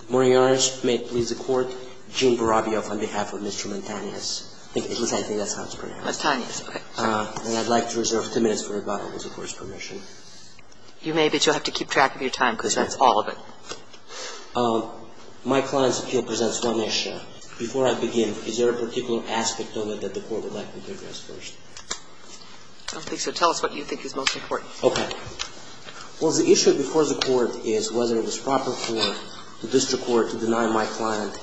Good morning, Your Honor. May it please the Court, Gene Barabioff on behalf of Mr. Mantanez. At least I think that's how it's pronounced. Mantanez, okay. And I'd like to reserve two minutes for rebuttal with the Court's permission. You may, but you'll have to keep track of your time because that's all of it. My client's appeal presents one issue. Before I begin, is there a particular aspect on it that the Court would like me to address first? I don't think so. Tell us what you think is most important. Okay. Well, the issue before the Court is whether it was proper for the district court to deny my client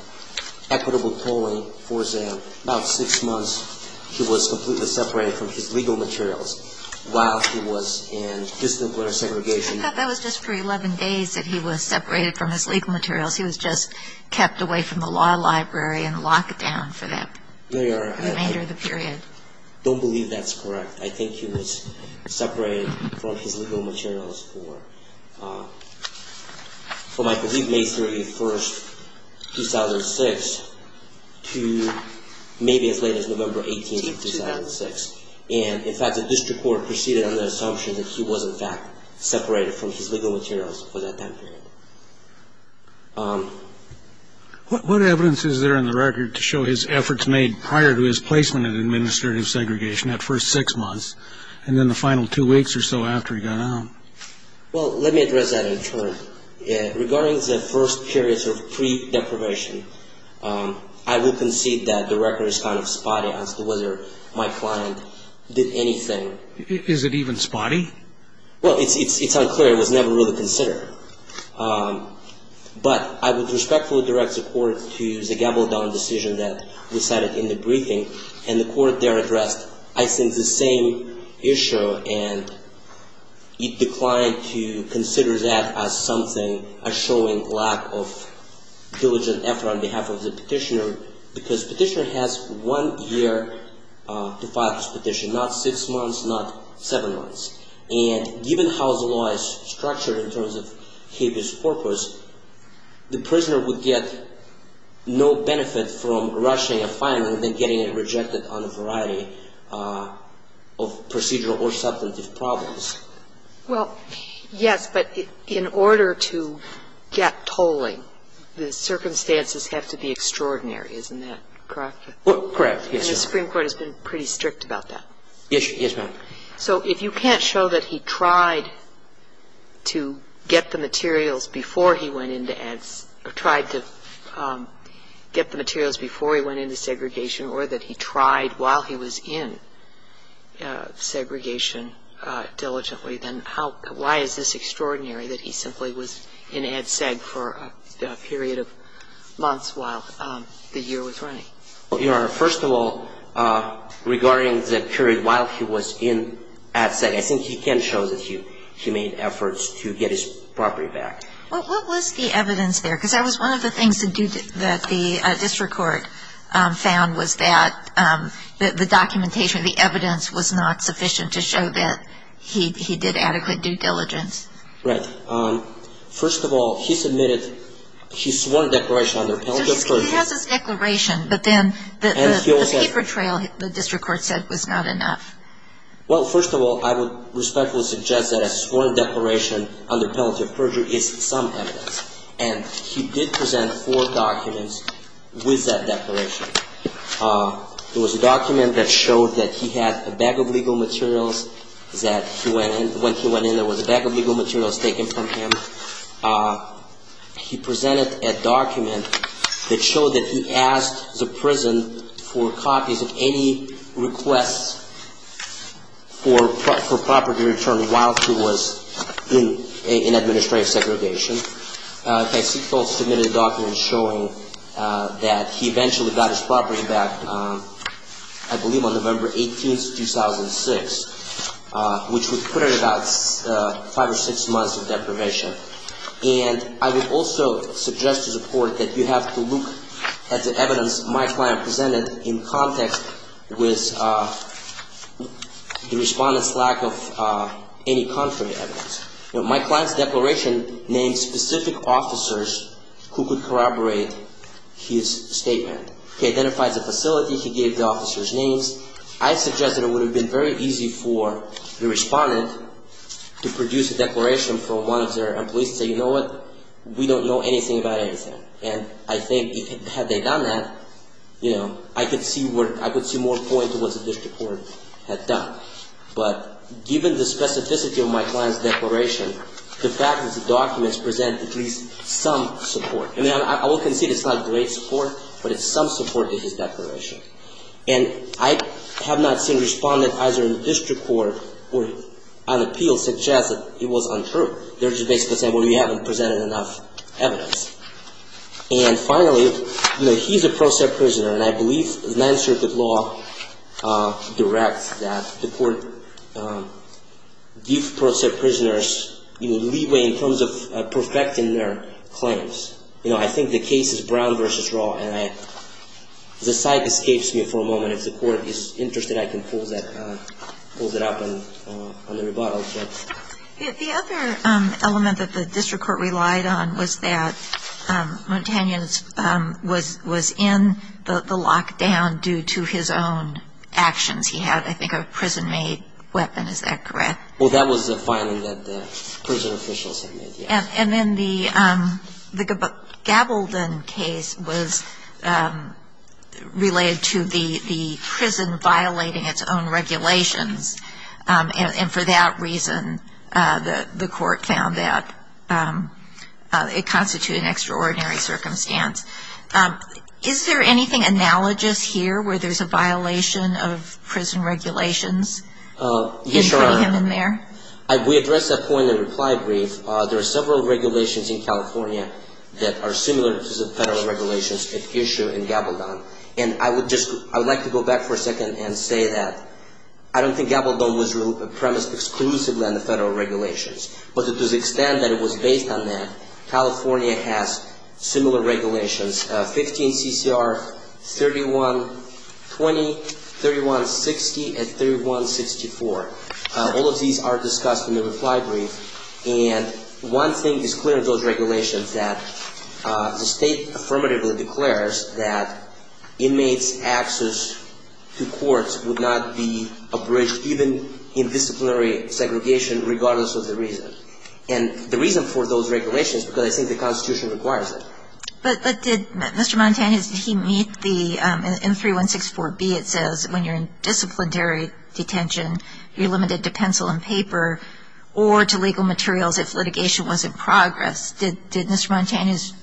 equitable polling for sale. About six months, he was completely separated from his legal materials while he was in disciplinary segregation. I thought that was just for 11 days that he was separated from his legal materials. He was just kept away from the law library and locked down for the remainder of the period. I don't believe that's correct. I think he was separated from his legal materials for, I believe, May 31, 2006 to maybe as late as November 18, 2006. And, in fact, the district court proceeded under the assumption that he was, in fact, separated from his legal materials for that time period. What evidence is there in the record to show his efforts made prior to his placement in administrative segregation at first six months and then the final two weeks or so after he got out? Well, let me address that in turn. Regarding the first periods of pre-deprivation, I would concede that the record is kind of spotty as to whether my client did anything. Is it even spotty? Well, it's unclear. It was never really considered. But I would respectfully direct the court to the Gabaldon decision that we cited in the briefing. And the court there addressed, I think, the same issue, and it declined to consider that as something a showing lack of diligent effort on behalf of the petitioner because petitioner has one year to file his petition, not six months, not seven months. And given how the law is structured in terms of habeas corpus, the prisoner would get no benefit from rushing a filing rather than getting it rejected on a variety of procedural or substantive problems. Well, yes, but in order to get tolling, the circumstances have to be extraordinary. Isn't that correct? Correct. Yes, Your Honor. And the Supreme Court has been pretty strict about that. Yes, ma'am. So if you can't show that he tried to get the materials before he went into segregation or that he tried while he was in segregation diligently, then why is this extraordinary, that he simply was in ad seg for a period of months while the year was running? Well, Your Honor, first of all, regarding the period while he was in ad seg, I think he can show that he made efforts to get his property back. Well, what was the evidence there? Because that was one of the things that the district court found was that the documentation, the evidence was not sufficient to show that he did adequate due diligence. Right. First of all, he submitted, he swore a declaration on their penalty of purchase. He has this declaration, but then the paper trail, the district court said, was not enough. Well, first of all, I would respectfully suggest that a sworn declaration on their penalty of purchase is some evidence. And he did present four documents with that declaration. It was a document that showed that he had a bag of legal materials, that when he went in there was a bag of legal materials taken from him. He presented a document that showed that he asked the prison for copies of any requests for property return while he was in administrative segregation. He submitted a document showing that he eventually got his property back, I believe on November 18, 2006, which would put it at about five or six months of deprivation. And I would also suggest to the court that you have to look at the evidence my client presented in context with the respondent's lack of any contrary evidence. My client's declaration named specific officers who could corroborate his statement. He identified the facility. He gave the officers' names. I suggest that it would have been very easy for the respondent to produce a declaration from one of their employees and say, you know what, we don't know anything about anything. And I think had they done that, you know, I could see more point to what the district court had done. But given the specificity of my client's declaration, the fact is the documents present at least some support. And I will concede it's not great support, but it's some support to his declaration. And I have not seen a respondent either in the district court or on appeal suggest that it was untrue. They're just basically saying, well, you haven't presented enough evidence. And finally, you know, he's a pro set prisoner, and I believe the Ninth Circuit law directs that the court give pro set prisoners, you know, leeway in terms of perfecting their claims. You know, I think the case is Brown v. Raw, and the site escapes me for a moment. If the court is interested, I can close it up on the rebuttal. The other element that the district court relied on was that Montanian was in the lockdown due to his own actions. He had, I think, a prison-made weapon. Is that correct? Well, that was the filing that the prison officials had made, yes. And then the Gabaldon case was related to the prison violating its own regulations, and for that reason the court found that it constituted an extraordinary circumstance. Is there anything analogous here where there's a violation of prison regulations in putting him in there? Yes, Your Honor. We addressed that point in the reply brief. There are several regulations in California that are similar to the federal regulations issued in Gabaldon, and I would like to go back for a second and say that I don't think Gabaldon was premised exclusively on the federal regulations, but to the extent that it was based on that, California has similar regulations, 15 CCR 3120, 3160, and 3164. All of these are discussed in the reply brief, and one thing is clear in those regulations, that the state affirmatively declares that inmates' access to courts would not be abridged, even in disciplinary segregation, regardless of the reason. And the reason for those regulations is because I think the Constitution requires it. But did Mr. Montanez, did he meet the M3164B, it says, when you're in disciplinary detention, you're limited to pencil and paper or to legal materials if litigation was in progress. Did Mr. Montanez,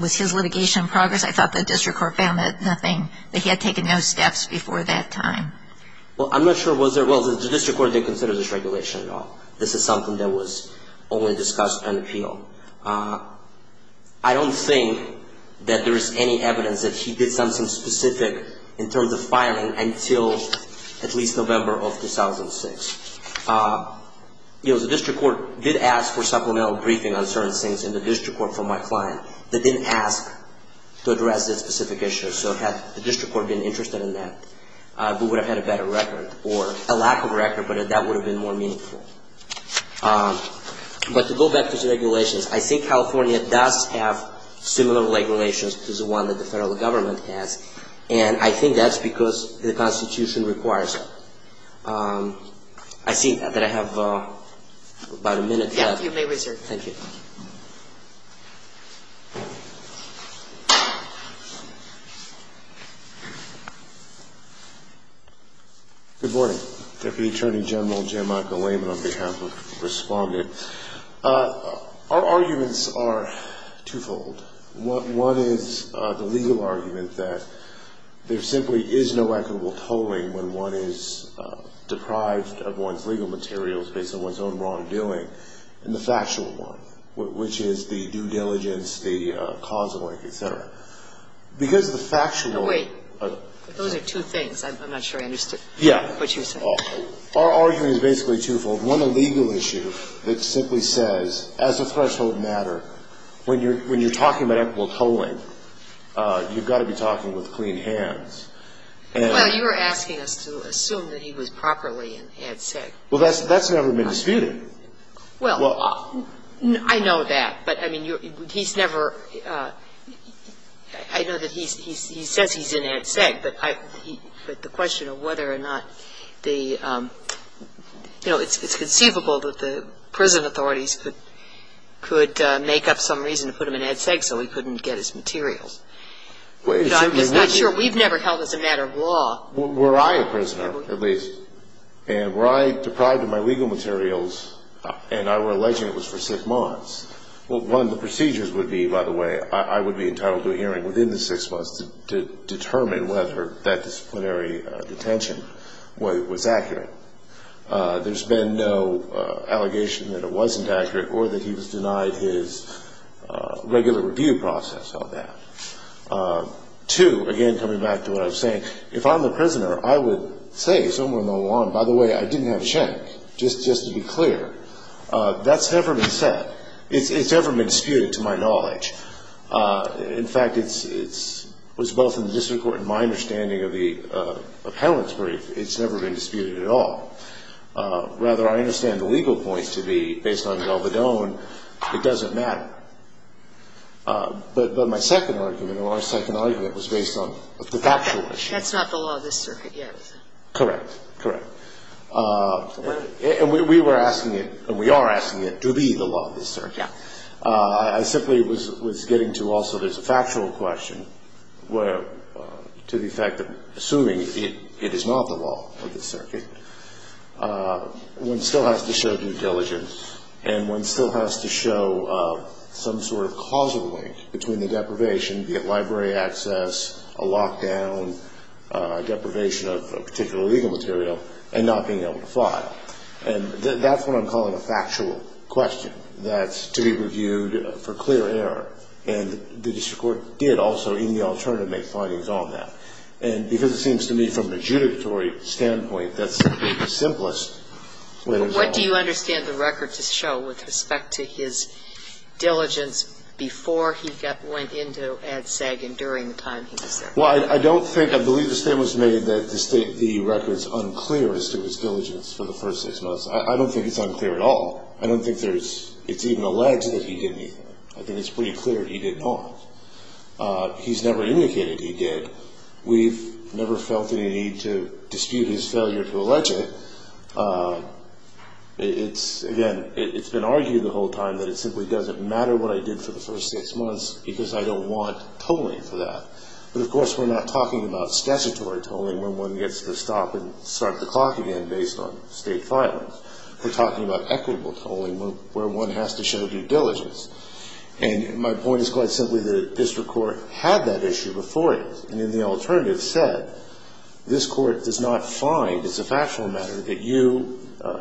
was his litigation in progress? I thought the district court found that nothing, that he had taken no steps before that time. Well, I'm not sure was there. Well, the district court didn't consider this regulation at all. This is something that was only discussed on appeal. I don't think that there is any evidence that he did something specific in terms of filing until at least November of 2006. The district court did ask for supplemental briefing on certain things in the district court for my client. They didn't ask to address this specific issue. So had the district court been interested in that, we would have had a better record, or a lack of record, but that would have been more meaningful. But to go back to the regulations, I think California does have similar regulations to the one that the federal government has, and I think that's because the Constitution requires it. I see that I have about a minute left. Yes, you may resume. Thank you. Good morning. Deputy Attorney General Jim Michael Lehman on behalf of Respondent. Our arguments are twofold. One is the legal argument that there simply is no equitable tolling when one is deprived of one's legal materials based on one's own wrongdoing, and the factual one, which is the due diligence, the causal link, et cetera. Because the factual one Those are two things. I'm not sure I understood what you said. Our argument is basically twofold. One, the legal issue that simply says, as a threshold matter, when you're talking about equitable tolling, you've got to be talking with clean hands. Well, you're asking us to assume that he was properly and had sex. Well, that's never been disputed. Well, I know that, but, I mean, he's never – I know that he says he's in ad sec, but the question of whether or not the – you know, it's conceivable that the prison authorities could make up some reason to put him in ad sec so he couldn't get his materials. I'm just not sure. We've never held it's a matter of law. Were I a prisoner, at least, and were I deprived of my legal materials and I were alleging it was for six months, well, one, the procedures would be, by the way, I would be entitled to a hearing within the six months to determine whether that disciplinary detention was accurate. There's been no allegation that it wasn't accurate or that he was denied his regular review process of that. Two, again, coming back to what I was saying, if I'm a prisoner I would say somewhere along, by the way, I didn't have a check, just to be clear. That's never been said. It's never been disputed to my knowledge. In fact, it was both in the district court and my understanding of the appellant's brief, it's never been disputed at all. Rather, I understand the legal point to be, based on Galvedon, it doesn't matter. But my second argument, or our second argument, was based on the factual issue. That's not the law of this circuit yet, is it? Correct. Correct. And we were asking it, and we are asking it, to be the law of this circuit. Yeah. I simply was getting to also there's a factual question where, to the effect of assuming it is not the law of this circuit, one still has to show due diligence, and one still has to show some sort of causal link between the deprivation, be it library access, a lockdown, deprivation of a particular legal material, and not being able to file. And that's what I'm calling a factual question that's to be reviewed for clear error. And the district court did also, in the alternative, make findings on that. And because it seems to me, from an adjudicatory standpoint, that's the simplest way to call it. What do you understand the record to show with respect to his diligence before he went into Ad Seg and during the time he was there? Well, I don't think, I believe the statement was made that the record is unclear as to his diligence for the first six months. I don't think it's unclear at all. I don't think there's, it's even alleged that he did anything. I think it's pretty clear he did not. He's never indicated he did. We've never felt any need to dispute his failure to allege it. It's, again, it's been argued the whole time that it simply doesn't matter what I did for the first six months because I don't want tolling for that. But, of course, we're not talking about statutory tolling where one gets to stop and start the clock again based on state filings. We're talking about equitable tolling where one has to show due diligence. And my point is quite simply the district court had that issue before it. And then the alternative said this court does not find it's a factual matter that you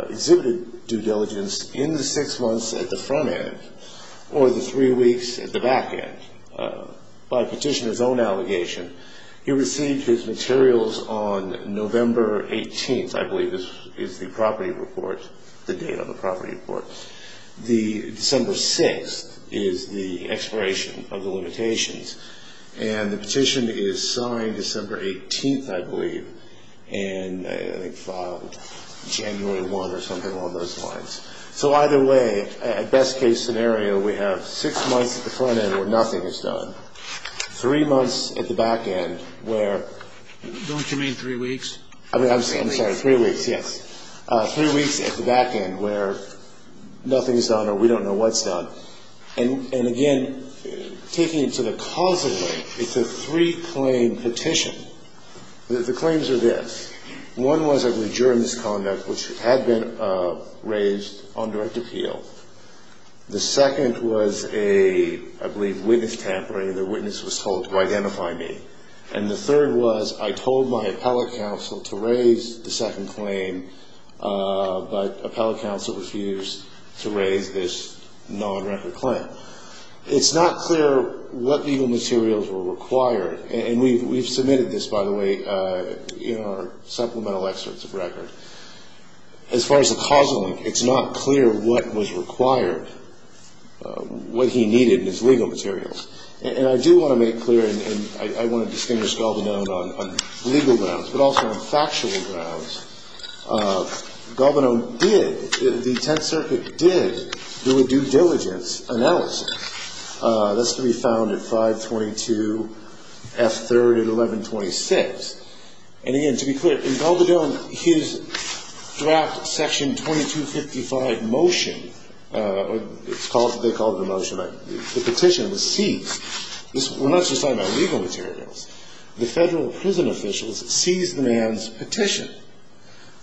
exhibited due diligence in the six months at the front end or the three weeks at the back end. By petitioner's own allegation, he received his materials on November 18th, I believe is the property report, the date on the property report. The December 6th is the expiration of the limitations. And the petition is signed December 18th, I believe, and I think filed January 1 or something along those lines. So either way, at best case scenario, we have six months at the front end where nothing is done, three months at the back end where... Don't you mean three weeks? I'm sorry, three weeks, yes. Three weeks at the back end where nothing is done or we don't know what's done. And, again, taking it to the causal way, it's a three-claim petition. The claims are this. One was that we adjourned this conduct, which had been raised on direct appeal. The second was a, I believe, witness tampering. The witness was told to identify me. And the third was I told my appellate counsel to raise the second claim, but appellate counsel refused to raise this non-record claim. It's not clear what legal materials were required. And we've submitted this, by the way, in our supplemental excerpts of record. As far as the causal link, it's not clear what was required, what he needed in his legal materials. And I do want to make it clear, and I want to distinguish Galbanone on legal grounds, but also on factual grounds. Galbanone did, the Tenth Circuit did, do a due diligence analysis. That's to be found at 522 F. 3rd and 1126. And, again, to be clear, in Galbanone, his draft Section 2255 motion, it's called, they call it a motion, but the petition was seized. We're not just talking about legal materials. The federal prison officials seized the man's petition.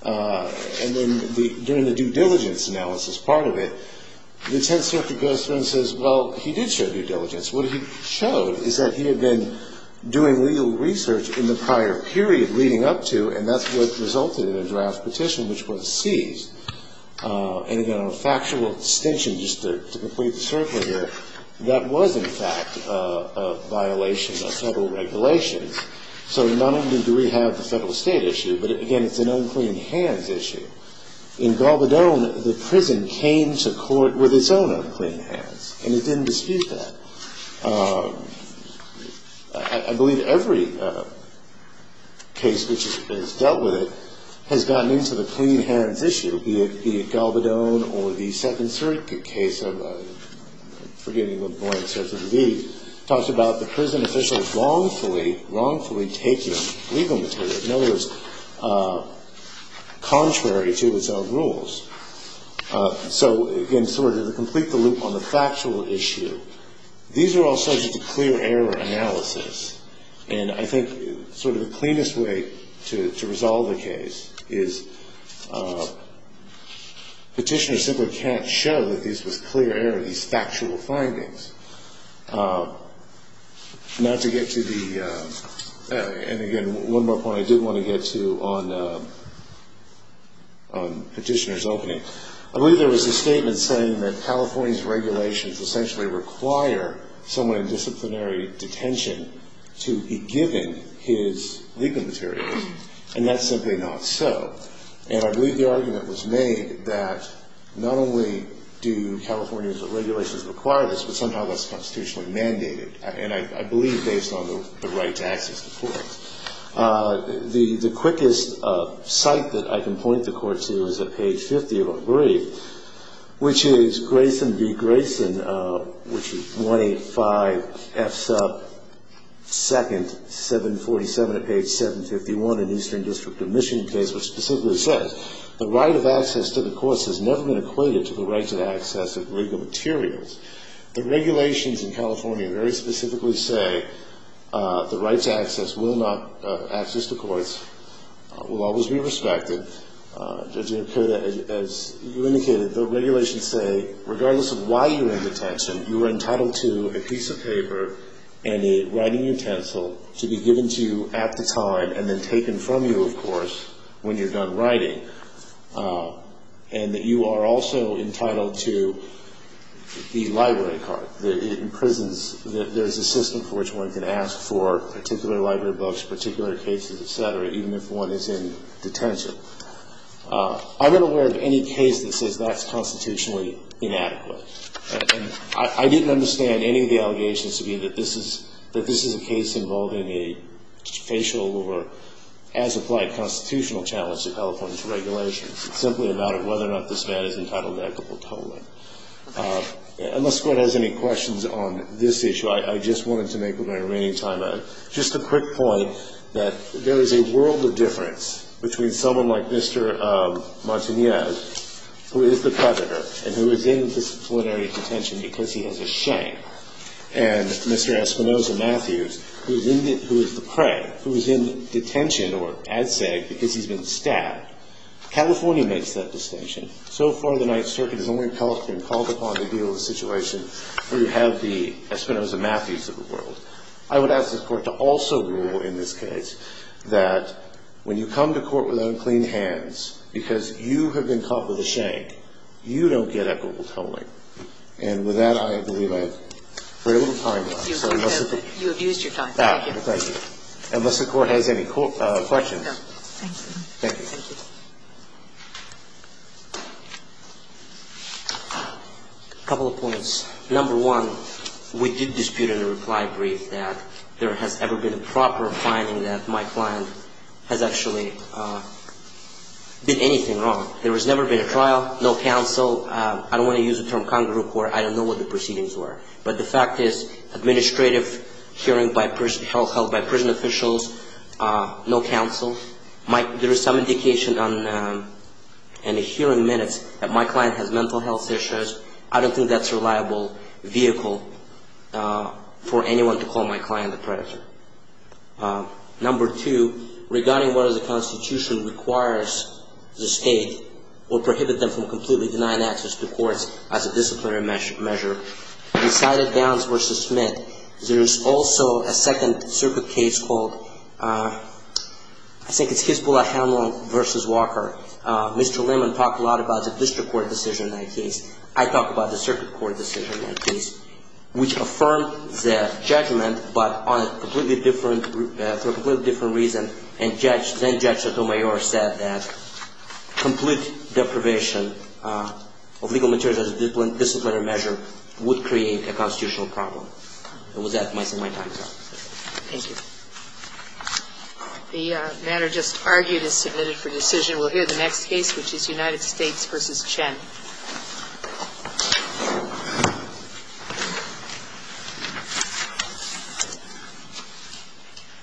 And then during the due diligence analysis part of it, the Tenth Circuit goes through and says, well, he did show due diligence. What he showed is that he had been doing legal research in the prior period leading up to, and that's what resulted in a draft petition which was seized. And, again, on a factual distinction, just to complete the circle here, that was, in fact, a violation of federal regulations. So not only do we have the federal-state issue, but, again, it's an unclean hands issue. In Galbanone, the prison came to court with its own unclean hands, and it didn't dispute that. I believe every case which has dealt with it has gotten into the clean hands issue, be it Galbanone or the Second Circuit case of, I'm forgetting what point it's at for the week, talks about the prison officials wrongfully taking legal material, in other words, contrary to its own rules. So, again, sort of to complete the loop on the factual issue, these are all subject to clear error analysis. And I think sort of the cleanest way to resolve a case is petitioners simply can't show that this was clear error, these factual findings. Not to get to the, and, again, one more point I did want to get to on petitioners opening. I believe there was a statement saying that California's regulations essentially require someone in disciplinary detention to be given his legal material, and that's simply not so. And I believe the argument was made that not only do California's regulations require this, but somehow that's constitutionally mandated, and I believe based on the right to access to court. The quickest site that I can point the court to is at page 50 of our brief, which is Grayson v. Grayson, which is 185F sub 2nd, 747 at page 751 in Eastern District Admission case, which specifically says, the right of access to the courts has never been equated to the right to access of legal materials. The regulations in California very specifically say the right to access will not, access to courts will always be respected. As you indicated, the regulations say, regardless of why you're in detention, you are entitled to a piece of paper and a writing utensil to be given to you at the time and then taken from you, of course, when you're done writing. And that you are also entitled to the library card. It imprisons, there's a system for which one can ask for particular library books, particular cases, et cetera, even if one is in detention. I'm unaware of any case that says that's constitutionally inadequate. And I didn't understand any of the allegations to be that this is a case involved in a facial over as applied constitutional challenge to California's regulations. It's simply about whether or not this man is entitled to equitable tolling. Unless the Court has any questions on this issue, I just wanted to make with my remaining time, just a quick point that there is a world of difference between someone like Mr. Montanez, who is the predator and who is in disciplinary detention because he has a shame, and Mr. Espinoza-Matthews, who is the prey, who is in detention or as said because he's been stabbed. California makes that distinction. So far the Ninth Circuit has only been called upon to deal with a situation where you have the Espinoza-Matthews of the world. I would ask the Court to also rule in this case that when you come to court with unclean hands because you have been caught with a shank, you don't get equitable tolling. And with that, I believe I have very little time left. You have used your time. Thank you. Unless the Court has any questions. No. Thank you. Thank you. A couple of points. Number one, we did dispute in a reply brief that there has ever been a proper finding that my client has actually did anything wrong. There has never been a trial, no counsel. I don't want to use the term con group where I don't know what the proceedings were. But the fact is administrative hearing held by prison officials, no counsel. There is some indication in the hearing minutes that my client has mental health issues. I don't think that's a reliable vehicle for anyone to call my client a predator. Number two, regarding whether the Constitution requires the state or prohibit them from completely denying access to courts as a disciplinary measure, we cited Downs v. Smith. There is also a second circuit case called, I think it's Hispula-Hamlin v. Walker. Mr. Lehman talked a lot about the district court decision in that case. I talked about the circuit court decision in that case, which affirmed the judgment but for a completely different reason. And then Judge Sotomayor said that complete deprivation of legal materials as a disciplinary measure would create a constitutional problem. And with that, my time is up. Thank you. The matter just argued is submitted for decision. We'll hear the next case, which is United States v. Chen.